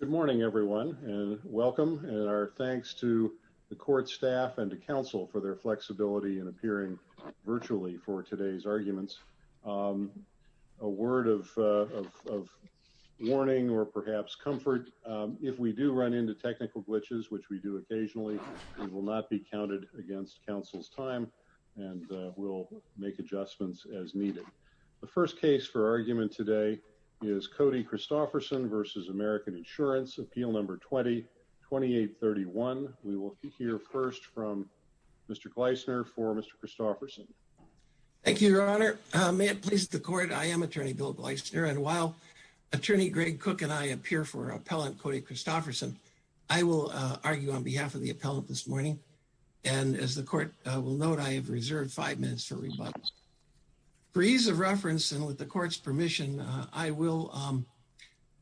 Good morning, everyone. And welcome and our thanks to the court staff and to counsel for their flexibility and appearing virtually for today's arguments. A word of warning or perhaps comfort. If we do run into technical glitches, which we do occasionally, we will not be counted against counsel's time, and we'll make adjustments as needed. The first case for argument today is Cody Christopherson versus American Insurance Appeal number 2831. We will hear first from Mr. Gleisner for Mr. Christopherson. Thank you, Your Honor. May it please the court. I am Attorney Bill Gleisner. And while Attorney Greg Cook and I appear for appellant Cody Christopherson, I will argue on behalf of the appellant this morning. And as the court will note, I have reserved five minutes for rebuttal. For ease of reference, and with the court's permission, I will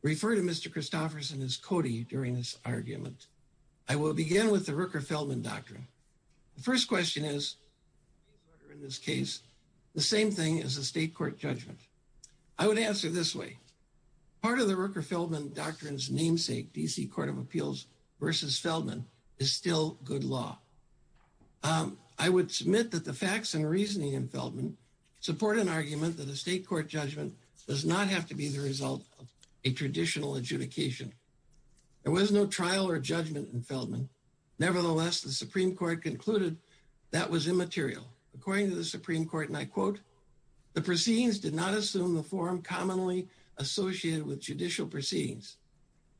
refer to Mr. Christopherson as Cody during this argument. I will begin with the Rooker-Feldman doctrine. The first question is, in this case, the same thing as the state court judgment. I would answer this way. Part of the Rooker-Feldman doctrine's namesake DC Court of Appeals versus Feldman is still good law. I would submit that the facts and reasoning in Feldman support an argument that the building does not have to be the result of a traditional adjudication. There was no trial or judgment in Feldman. Nevertheless, the Supreme Court concluded that was immaterial. According to the Supreme Court, and I quote, the proceedings did not assume the form commonly associated with judicial proceedings.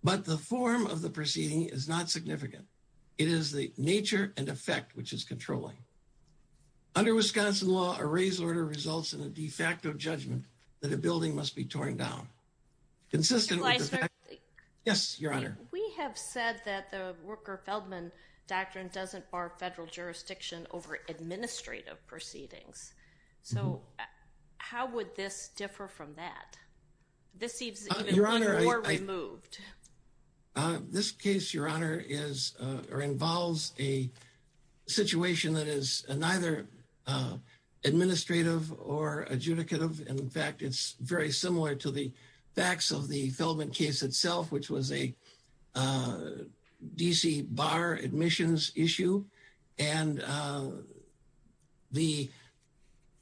But the form of the proceeding is not significant. It is the nature and effect which is controlling. Under Wisconsin law, a raise order results in a de facto judgment that a building must be torn down. Consistent. Yes, Your Honor. We have said that the Rooker-Feldman doctrine doesn't bar federal jurisdiction over administrative proceedings. So how would this differ from that? This seems even more removed. This case, Your Honor, is or involves a situation that is neither administrative or adjudicative. In fact, it's very similar to the facts of the Feldman case itself, which was a D.C. bar admissions issue. And the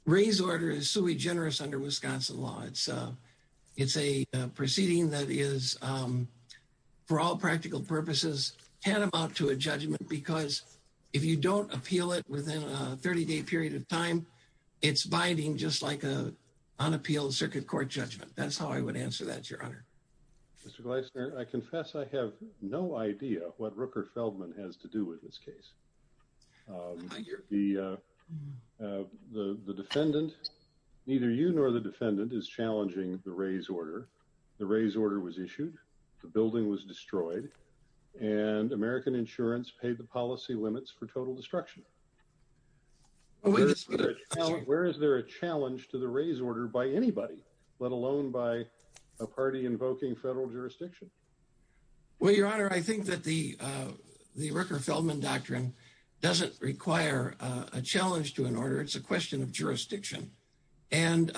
raise order is sui generis under Wisconsin law. It's a it's a proceeding that is for all practical purposes, tantamount to a judgment, because if you don't appeal it within a 30 day period of time, it's binding, just like a unappealed circuit court judgment. That's how I would answer that, Your Honor. Mr. Gleisner, I confess I have no idea what Rooker-Feldman has to do with this case. The the defendant, neither you nor the defendant, is challenging the raise order. The raise order was issued. The building was destroyed and American Insurance paid the policy limits for total destruction. Where is there a challenge to the raise order by anybody, let alone by a party invoking federal jurisdiction? Well, Your Honor, I think that the the Rooker-Feldman doctrine doesn't require a challenge to an order. It's a question of jurisdiction. And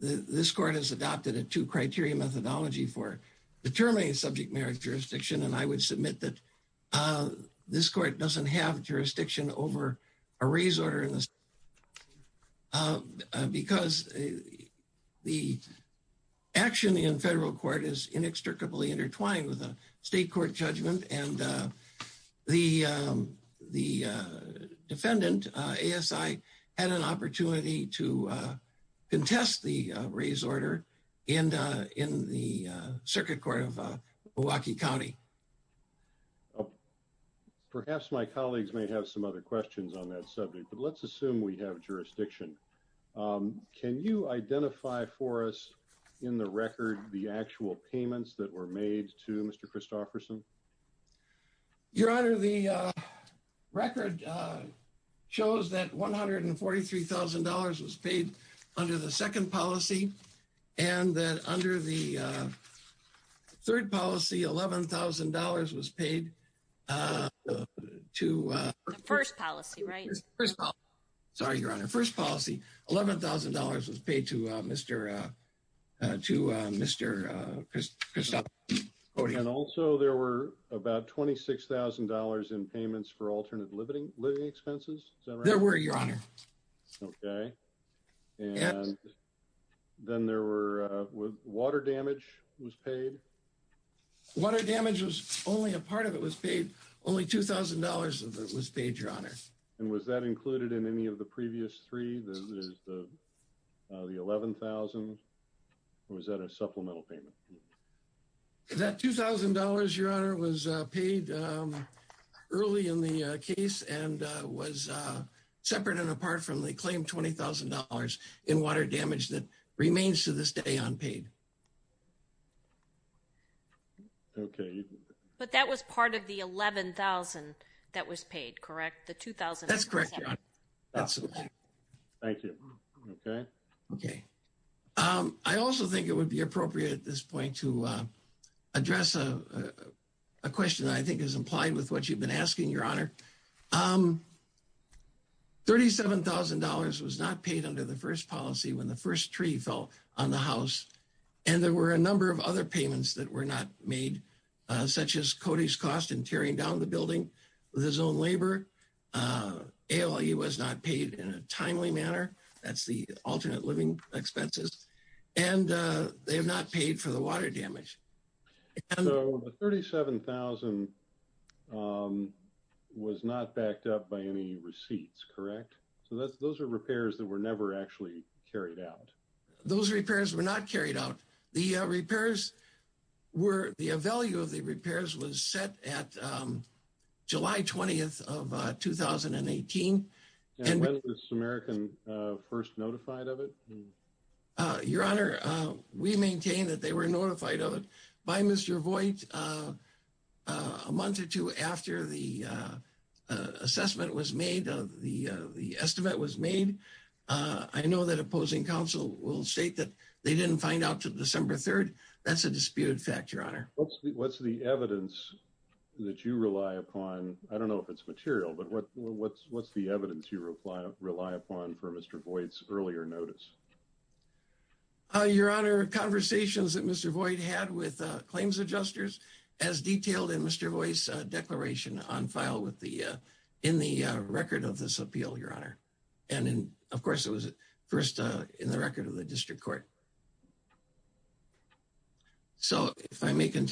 this court has adopted a two criteria methodology for determining subject merit jurisdiction. And I would submit that this court doesn't have jurisdiction over a raise order in this case, because the action in federal court is inextricably intertwined with a state court judgment. And the defendant, ASI, had an opportunity to contest the raise order in the circuit court of Milwaukee County. Perhaps my colleagues may have some other questions on that subject, but let's assume we have jurisdiction. Can you identify for us in the record the actual payments that were made to Mr. Christofferson? Your Honor, the record shows that $143,000 was paid under the second policy, and that under the third policy, $11,000 was paid to... The first policy, right? First policy. Sorry, Your Honor. First policy, $11,000 was paid to Mr. Christofferson. And also, there were about $26,000 in payments for alternate living expenses. There were, Your Honor. Okay. And then there were... Water damage was paid. Water damage was... Only a part of it was paid. Only $2,000 of it was paid, Your Honor. And was that included in any of the previous three? The $11,000, or was that a supplemental payment? That $2,000, Your Honor, was separate and apart from the claimed $20,000 in water damage that remains to this day unpaid. Okay. But that was part of the $11,000 that was paid, correct? The $2,000... That's correct, Your Honor. Thank you. Okay. Okay. I also think it would be appropriate at this point to address a question that I think is implied with what you've been asking, Your Honor. $37,000 was not paid under the first policy when the first tree fell on the house. And there were a number of other payments that were not made, such as Cody's cost in tearing down the building with his own labor. ALE was not paid in a timely manner. That's the alternate living expenses. And they have not paid for the water damage. So the $37,000 was not backed up by any receipts, correct? So those are repairs that were never actually carried out. Those repairs were not carried out. The repairs were... The value of the repairs was set at July 20th of 2018. And when was American first notified of it? Your Honor, we maintain that they were notified of it by Mr. Voigt a month or two after the assessment was made, the estimate was made. I know that opposing counsel will state that they didn't find out till December 3rd. That's a disputed fact, Your Honor. What's the evidence that you rely upon? I don't know if it's material, but what's the evidence you rely upon for Mr. Voigt's earlier notice? Your Honor, conversations that Mr. Voigt had with claims adjusters as detailed in Mr. Voigt's declaration on file in the record of this appeal, Your Honor. And of course, it was first in the record of the district court. So if I may that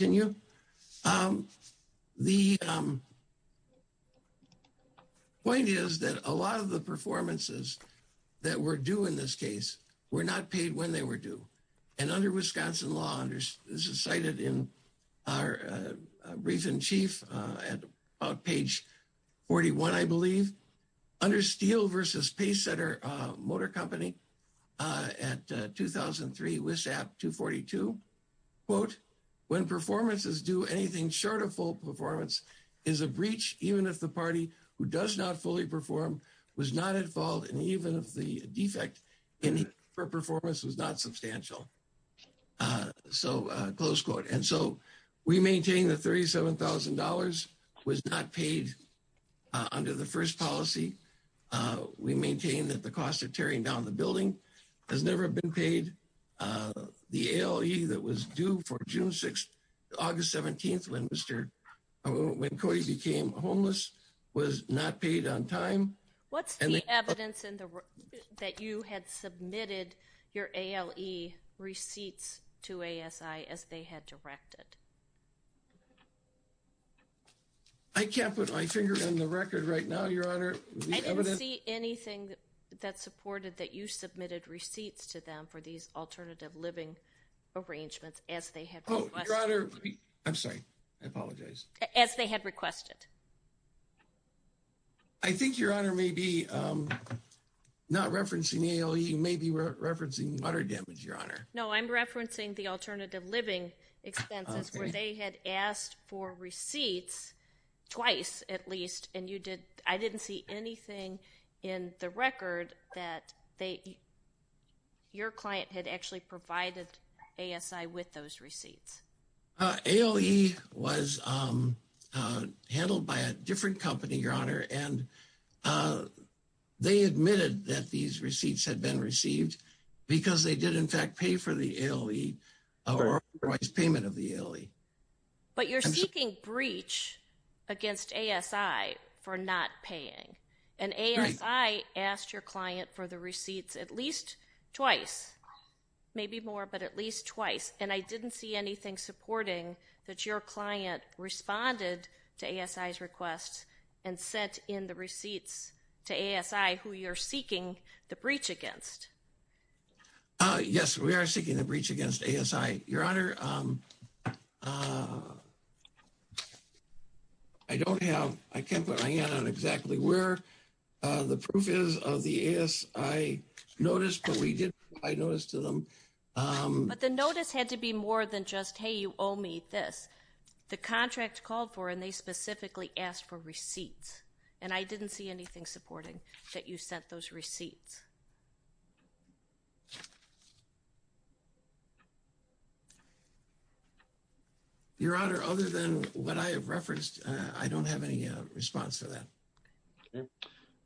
were due in this case were not paid when they were due. And under Wisconsin law, and this is cited in our recent chief at about page 41, I believe, under Steele v. Paysetter Motor Company at 2003 WISAP 242, quote, when performances do anything short of full performance is a breach even if the party who does not fully perform was not at fault. And even if the defect in her performance was not substantial. So close quote. And so we maintain the $37,000 was not paid under the first policy. We maintain that the cost of tearing down the building has never been paid. The ALE that was due for June 6th, August 17th when Mr. when evidence in the that you had submitted your ALE receipts to ASI as they had directed. I can't put my finger on the record right now, Your Honor. I didn't see anything that supported that you submitted receipts to them for these alternative living arrangements as they have your honor. I'm sorry. I apologize as they had requested. I think your honor may be not referencing ALE. You may be referencing water damage, Your Honor. No, I'm referencing the alternative living expenses where they had asked for receipts twice at least and you did. I didn't see anything in the record that they your client had actually provided ASI with those receipts. ALE was handled by a different company, Your Honor and they admitted that these receipts had been received because they did in fact pay for the ALE or otherwise payment of the ALE. But you're seeking breach against ASI for not paying and ASI asked your more, but at least twice and I didn't see anything supporting that your client responded to ASI's requests and sent in the receipts to ASI who you're seeking the breach against. Yes, we are seeking the breach against ASI, Your Honor. I don't have I can't put my hand on exactly where the proof is of the ASI notice, but we did provide notice to them. But the notice had to be more than just hey, you owe me this. The contract called for and they specifically asked for receipts and I didn't see anything supporting that you sent those receipts. Your Honor other than what I have referenced, I don't have any response to that.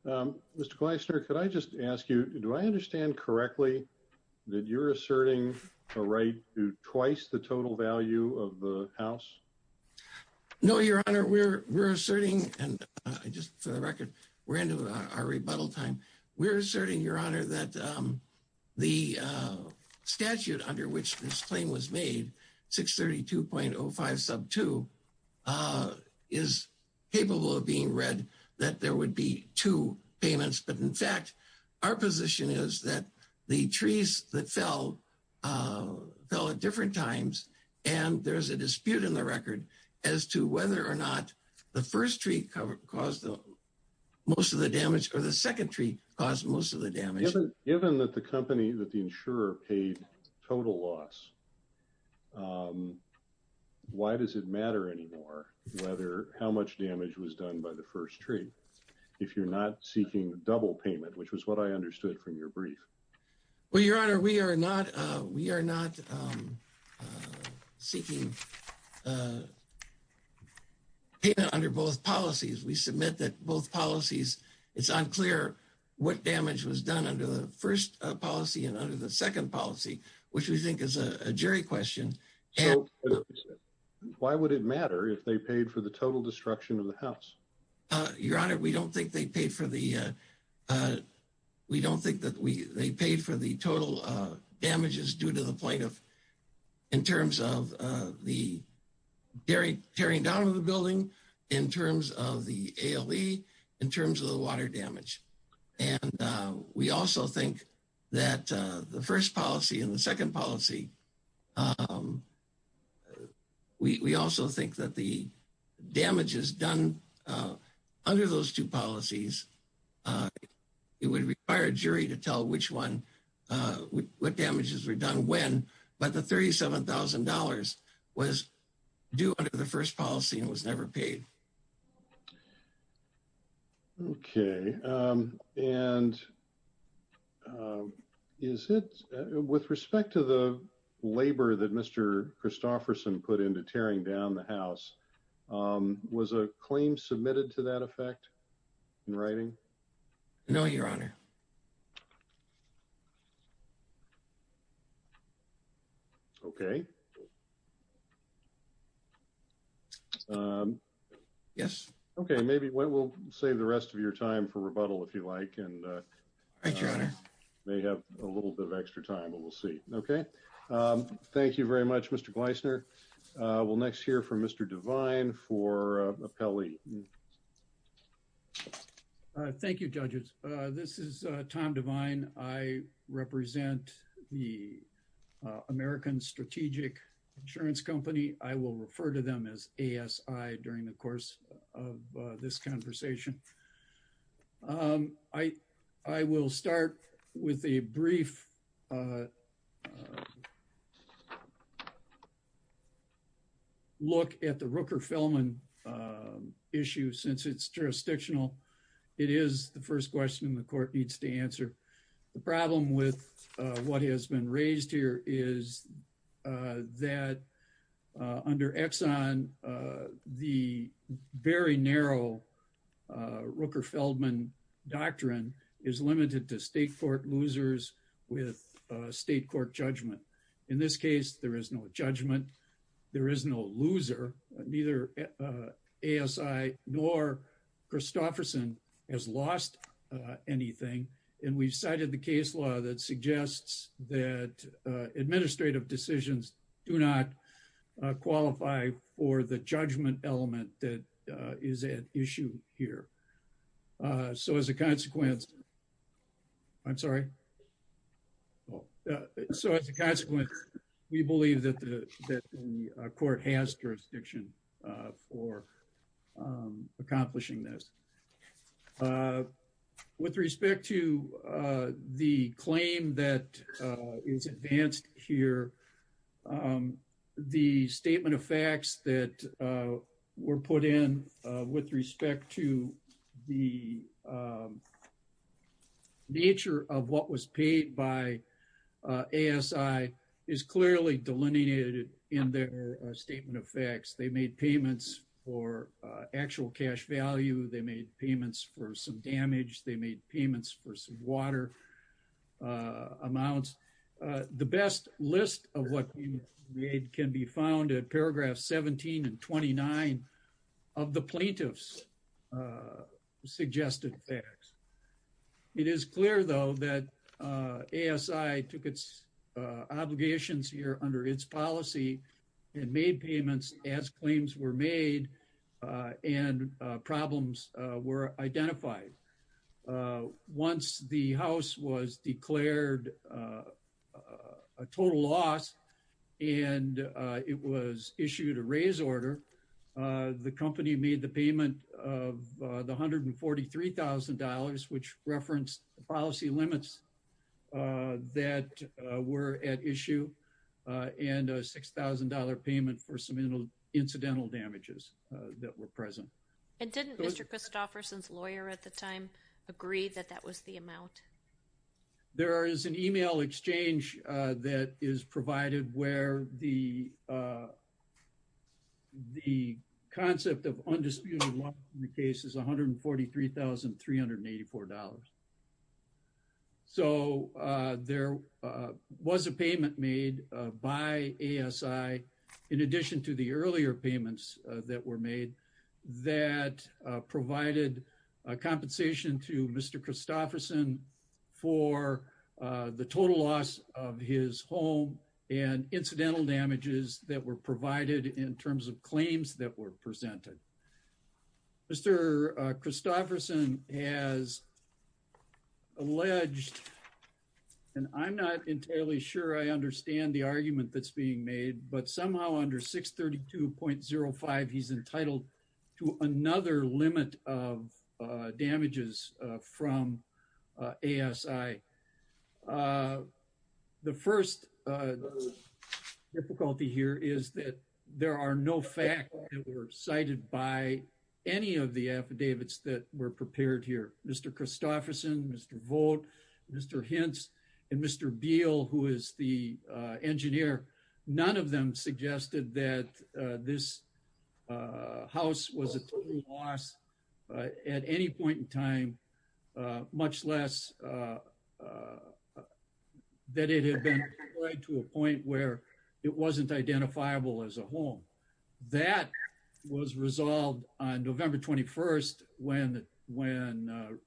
Mr. Gleisner, could I just ask you do I understand correctly that you're asserting a right to twice the total value of the house? No, Your Honor. We're we're asserting and just for the record we're into our rebuttal time. We're asserting Your Honor that the statute under which this claim was made 632.05 sub two is capable of being read that there would be two payments. But in fact, our position is that the trees that fell fell at different times and there's a dispute in the record as to whether or not the first tree caused most of the damage or the second tree caused most of the damage. Given that the company that the Why does it matter anymore whether how much damage was done by the first tree if you're not seeking double payment, which was what I understood from your brief? Well, Your Honor, we are not we are not seeking payment under both policies. We submit that both policies. It's unclear what damage was done under the first policy and under the second policy, which we think is a jury question. Why would it matter if they paid for the total destruction of the house? Your Honor, we don't think they paid for the we don't think that we they paid for the total damages due to the plaintiff in terms of the dairy tearing down on the building in terms of the ALE in terms of the water damage and we also think that the first policy and the second policy. We also think that the damage is done under those two policies. It would require a jury to tell which one what damages were done when but the $37,000 was due under the first policy and was never paid. Okay, and. Is it with respect to the labor that Mr Christofferson put into tearing down the house was a claim submitted to that effect in writing? No, Your Honor. Okay. Yes, okay. Maybe we'll save the rest of your time for rebuttal if you like and I may have a little bit of extra time, but we'll see. Okay. Thank you very much. Mr. Gleisner will next hear from Mr. Divine for appellee. Thank you judges. This is Tom Divine. I represent the American Strategic Insurance Company. I will refer to them as ASI during the course of this conversation. I I will start with a brief. Look at the Rooker-Felman issue since it's jurisdictional. It is the first question the court needs to answer the problem with what has been raised here is that under Exxon the very narrow Rooker-Felman doctrine is limited to state court losers with state court judgment. In this case, there is no judgment. There is no loser neither ASI nor Christofferson has lost anything and we've cited the case law that suggests that administrative decisions do not qualify for the judgment element that is at issue here. So as a consequence, I'm sorry. So as a consequence, we believe that the that the With respect to the claim that is advanced here, the statement of facts that were put in with respect to the nature of what was paid by ASI is clearly delineated in their statement of facts. They made payments for actual cash value. They made payments for some damage. They made payments for some water amounts. The best list of what we made can be found at paragraph seventeen and twenty-nine of the plaintiffs suggested facts. It is clear though that ASI took its obligations here under its policy and made payments as identified. Once the house was declared a total loss and it was issued a raise order, the company made the payment of the hundred and forty-three thousand dollars which referenced the policy limits that were at issue and a six-thousand-dollar payment for some incidental damages that were present. And didn't Mr. Christofferson's lawyer at the time agree that that was the amount? There is an email exchange that is provided where the the concept of undisputed in the case is $143,384. So there was a payment made by ASI in addition to the earlier payments that were made that provided a compensation to Mr. Christofferson for the total loss of his home and incidental damages that were provided in terms of claims that were presented. Mr. Christofferson has alleged and I'm not entirely sure I understand the argument that's entitled to another limit of damages from ASI. The first difficulty here is that there are no facts that were cited by any of the affidavits that were prepared here. Mr. Christofferson, Mr. Vogt, Mr. Hintz, and Mr. Beal who is the house was a total loss at any point in time much less that it had been to a point where it wasn't identifiable as a home. That was resolved on November 21st when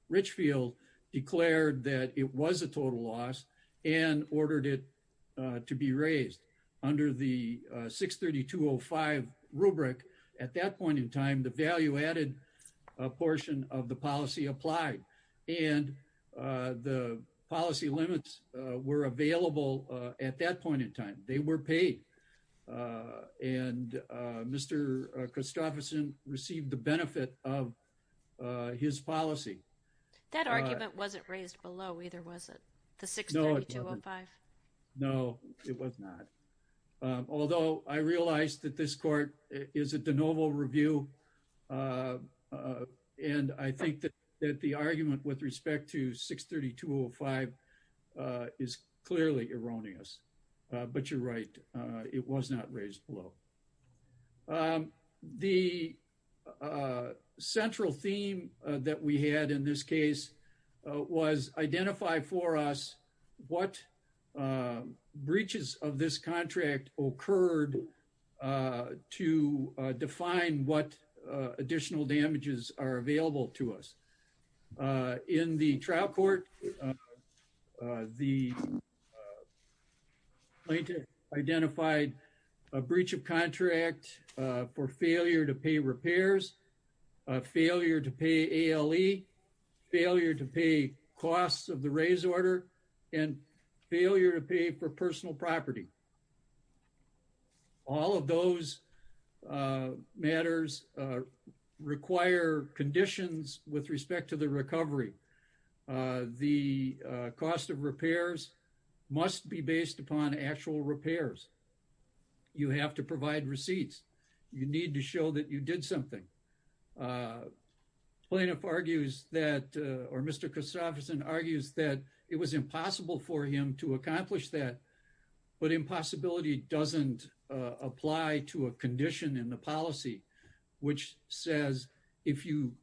Richfield declared that it was a total loss and ordered it to be raised under the $143,384 limit. At that point in time, the value added a portion of the policy applied and the policy limits were available at that point in time. They were paid and Mr. Christofferson received the benefit of his policy. That argument wasn't raised below either was it? The $632,005? No, it was not. Although I realize that this court is a de novo review and I think that the argument with respect to $632,005 is clearly erroneous but you're right it was not raised below. The central theme that we had in this case was identify for us what breaches of this contract occurred to define what additional damages are available to us. In the trial court, the plaintiff identified a breach of contract for failure to pay repairs, failure to pay ALE, failure to pay costs of the raise order, and failure to pay for personal property. All of those matters require conditions with respect to the recovery. The cost of repairs must be based upon actual repairs. You have to provide receipts. You need to show that you did something. Plaintiff argues that or Mr. Christopherson argues that it was impossible for him to accomplish that but impossibility doesn't apply to a condition in the policy which says if you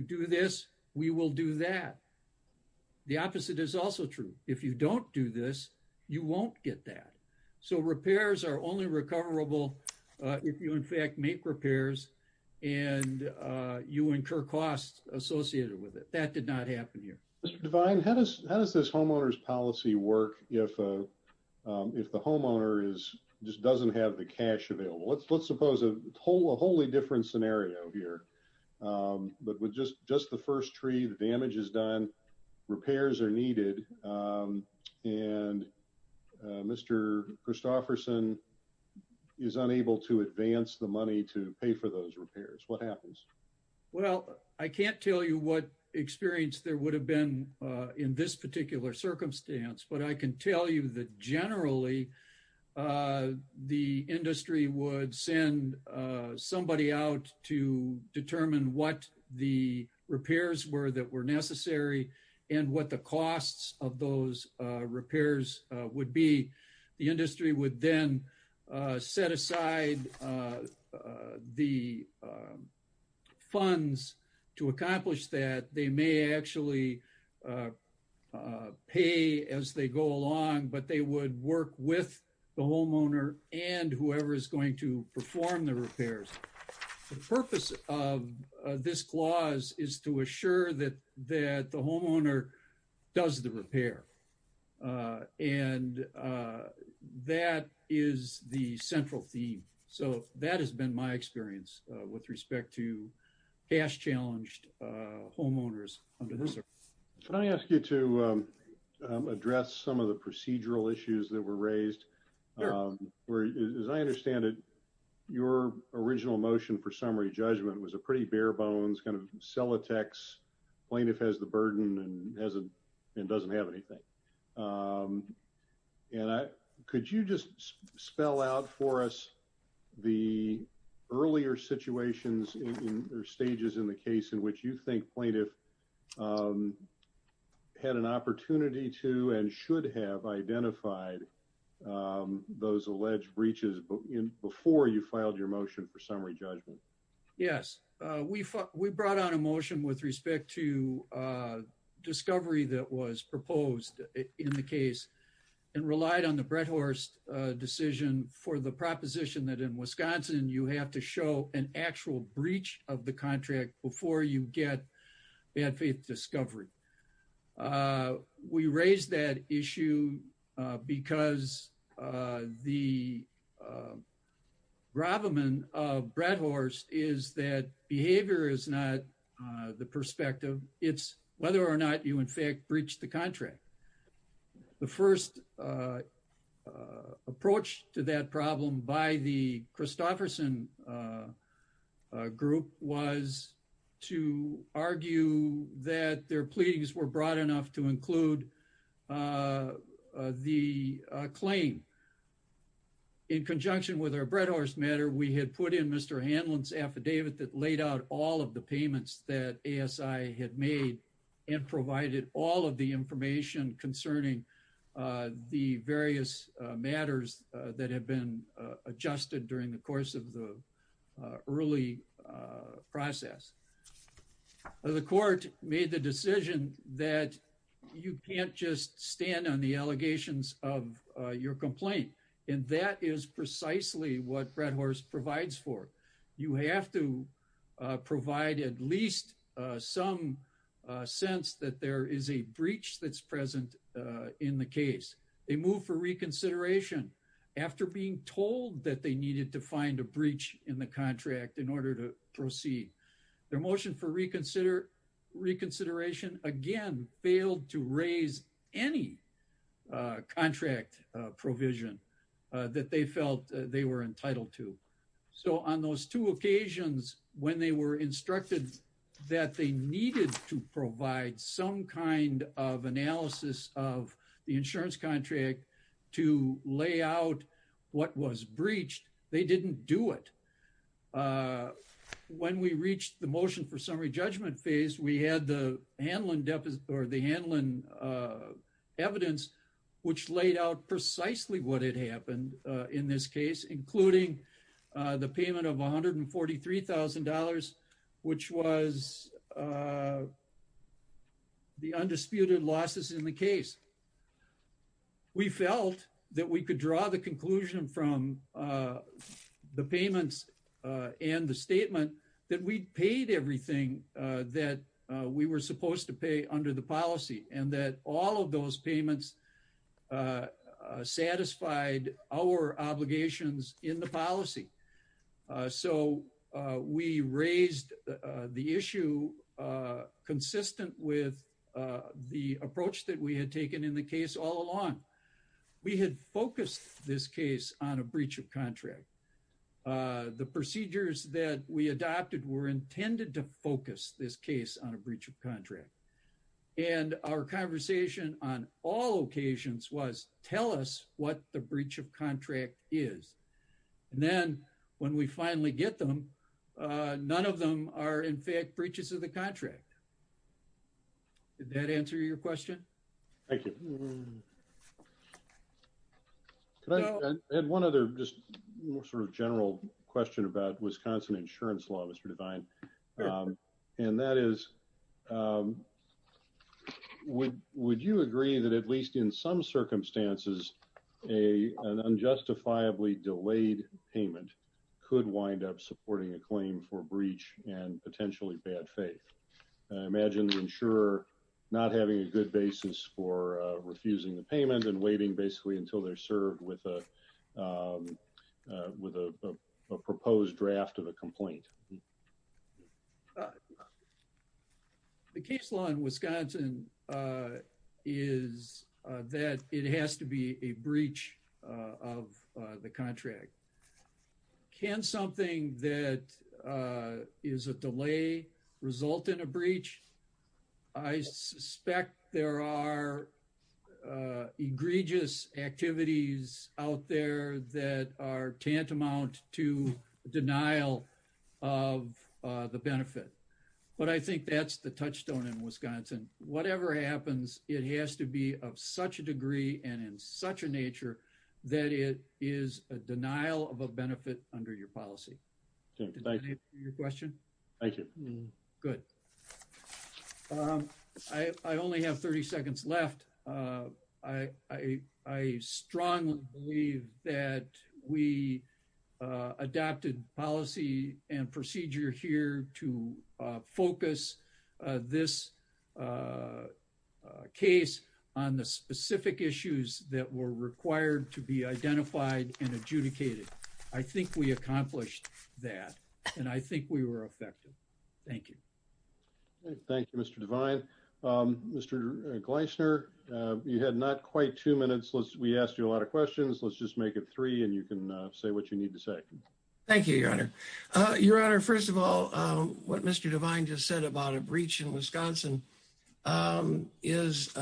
do this we will do that. The opposite is also true. If you don't do this, you won't get that. So repairs are only recoverable if you in fact make repairs and you incur costs associated with it. That did not happen here. Mr. Devine, how does this homeowner's policy work if the homeowner just doesn't have the cash available? Let's suppose a wholly different scenario here. With just the first tree, the damage is done, repairs are needed, and Mr. Christopherson is unable to advance the money to pay for those repairs. What happens? Well, I can't tell you what experience there would have been in this particular circumstance but I can tell you that generally the industry would send somebody out to determine what the repairs were that were necessary and what the costs of those repairs would be. The industry would then set aside the funds to accomplish that. They may actually pay as they go along but they would work with the homeowner and whoever is going to perform the repairs. The purpose of this clause is to assure that the homeowner does the repair and that is the central theme. So that has been my experience with respect to cash challenged homeowners. Can I ask you to address some of the procedural issues that were raised? As I understand it, your original motion for summary judgment was a pretty bare bones kind of cell attacks. Plaintiff has the burden and doesn't have anything. Could you just spell out for us the earlier situations in or stages in the case in which you think plaintiff had an opportunity to and should have identified those alleged breaches before you filed your motion for summary judgment? Yes, we brought on a motion with respect to discovery that was proposed in the case and relied on the Brett Horst decision for the proposition that in Wisconsin you have to show an actual breach of the contract before you get bad faith discovery. We raised that issue because the gravamen of Brett Horst is that behavior is not the perspective. It's whether or not you in fact breached the contract. The first approach to that problem by the Christofferson group was to argue that their pleadings were broad enough to include the claim. In conjunction with our Brett Horst matter, we had put in Mr. Hanlon's affidavit that laid out all of the payments that ASI had made and provided all of the information concerning the various matters that have been adjusted during the course of the early process. The court made the decision that you can't just stand on the allegations of your complaint and that is precisely what Brett Horst provides for. You have to provide at least some sense that there is a breach that's present in the case. They move for reconsideration after being told that they needed to find a breach in the contract in order to proceed. Their motion for reconsideration again failed to raise any contract provision that they felt they were entitled to. So on those two occasions when they were instructed that they needed to provide some kind of analysis of the insurance contract to lay out what was breached, they didn't do it. When we reached the motion for summary judgment phase, we had the Hanlon evidence which laid out precisely what had happened in this case, including the payment of $143,000 which was the undisputed losses in the case. We felt that we could draw the conclusion from the payments and the statement that we paid everything that we were supposed to pay under the policy and that all of those payments satisfied our obligations in the policy. So we raised the issue consistent with the approach that we had taken in the case all along. We had focused this case on a breach of contract. The procedures that we adopted were intended to focus this case on a breach of contract. And our conversation on all occasions was tell us what the breach of contract is. And then when we finally get them, none of them are in fact breaches of the contract. Did that answer your question? Thank you. I had one other just more sort of general question about Wisconsin insurance law Mr. Devine. And that is, would you agree that at least in some circumstances an unjustifiably delayed payment could wind up supporting a claim for breach and potentially bad faith? I imagine the insurer not having a good basis for refusing the payment and waiting basically until they're served with a with a proposed draft of a complaint. The case law in Wisconsin is that it has to be a breach of the contract. Can something that is a delay result in a breach? I suspect there are egregious activities out there that are tantamount to denial of the benefit. But I think that's the touchstone in Wisconsin. Whatever happens it has to be of such a that it is a denial of a benefit under your policy. Did that answer your question? Thank you. Good. I only have 30 seconds left. I strongly believe that we adopted policy and procedure here to focus this case on the specific issues that were required to be identified and adjudicated. I think we accomplished that and I think we were effective. Thank you. Thank you Mr. Devine. Mr. Gleisner, you had not quite two minutes. We asked you a lot of questions. Let's just make it three and you can say what you need to say. Thank you your honor. Your honor, first of all what Mr. Devine just said about a breach in Wisconsin is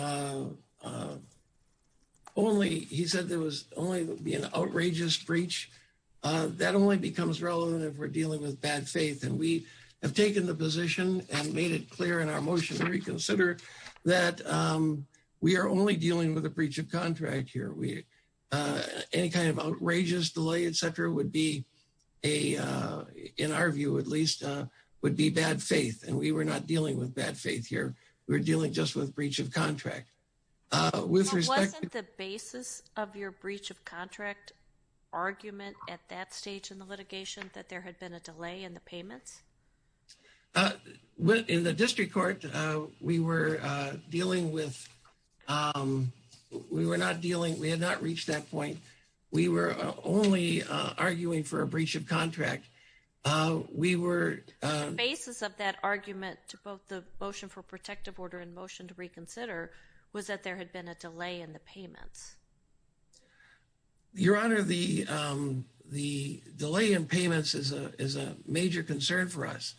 only he said there was only be an outrageous breach. That only becomes relevant if we're dealing with bad faith and we have taken the position and made it clear in our motion to reconsider that we are only dealing with a breach of contract here. Any kind of outrageous delay etc would be a in our view at least would be bad faith and we were not dealing with bad faith here. We're dealing just with breach of contract. Wasn't the basis of your breach of contract argument at that stage in the litigation that there had been a delay in the payments? In the district court we were dealing with we were not dealing we had not reached that point. We were only arguing for a breach of contract. The basis of that argument to both the motion for protective order and motion to reconsider was that there had been a delay in the payments. Your honor, the delay in payments is a is a major concern for us.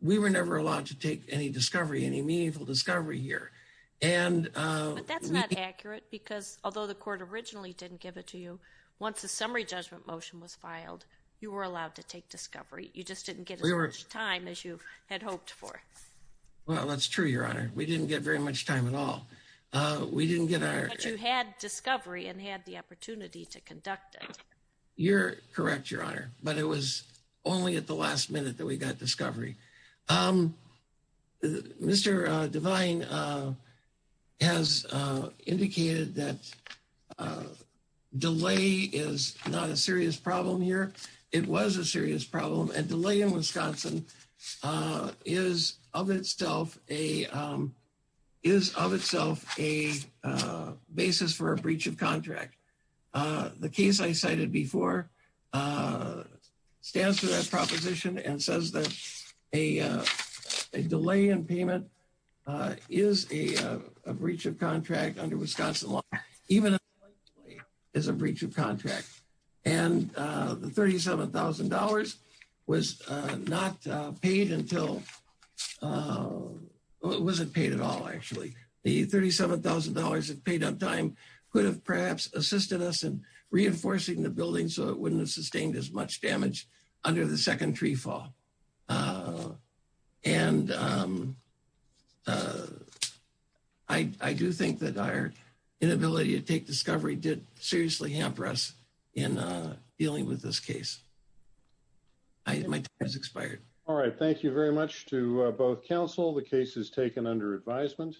We were never allowed to take any discovery any meaningful discovery here. But that's not accurate because although the court originally didn't give it to you once the summary judgment motion was filed you were allowed to take discovery you just didn't get as much time as you had hoped for. Well that's true your honor we didn't get very much time at all. But you had discovery and had the opportunity to conduct it. You're correct your honor but it was only at the last minute that we got discovery. Mr. Devine has indicated that delay is not a serious problem here. It was a serious problem and delay in Wisconsin is of itself a is of itself a basis for a breach of contract. The case I cited before stands for that proposition and says a delay in payment is a breach of contract under Wisconsin law. Even a delay is a breach of contract and the $37,000 was not paid until it wasn't paid at all actually. The $37,000 it paid on time could have perhaps assisted us in reinforcing the building so it wouldn't have sustained as much damage under the second tree fall. And I do think that our inability to take discovery did seriously hamper us in dealing with this case. My time has expired. All right thank you very much to both counsel the case is taken under advisement.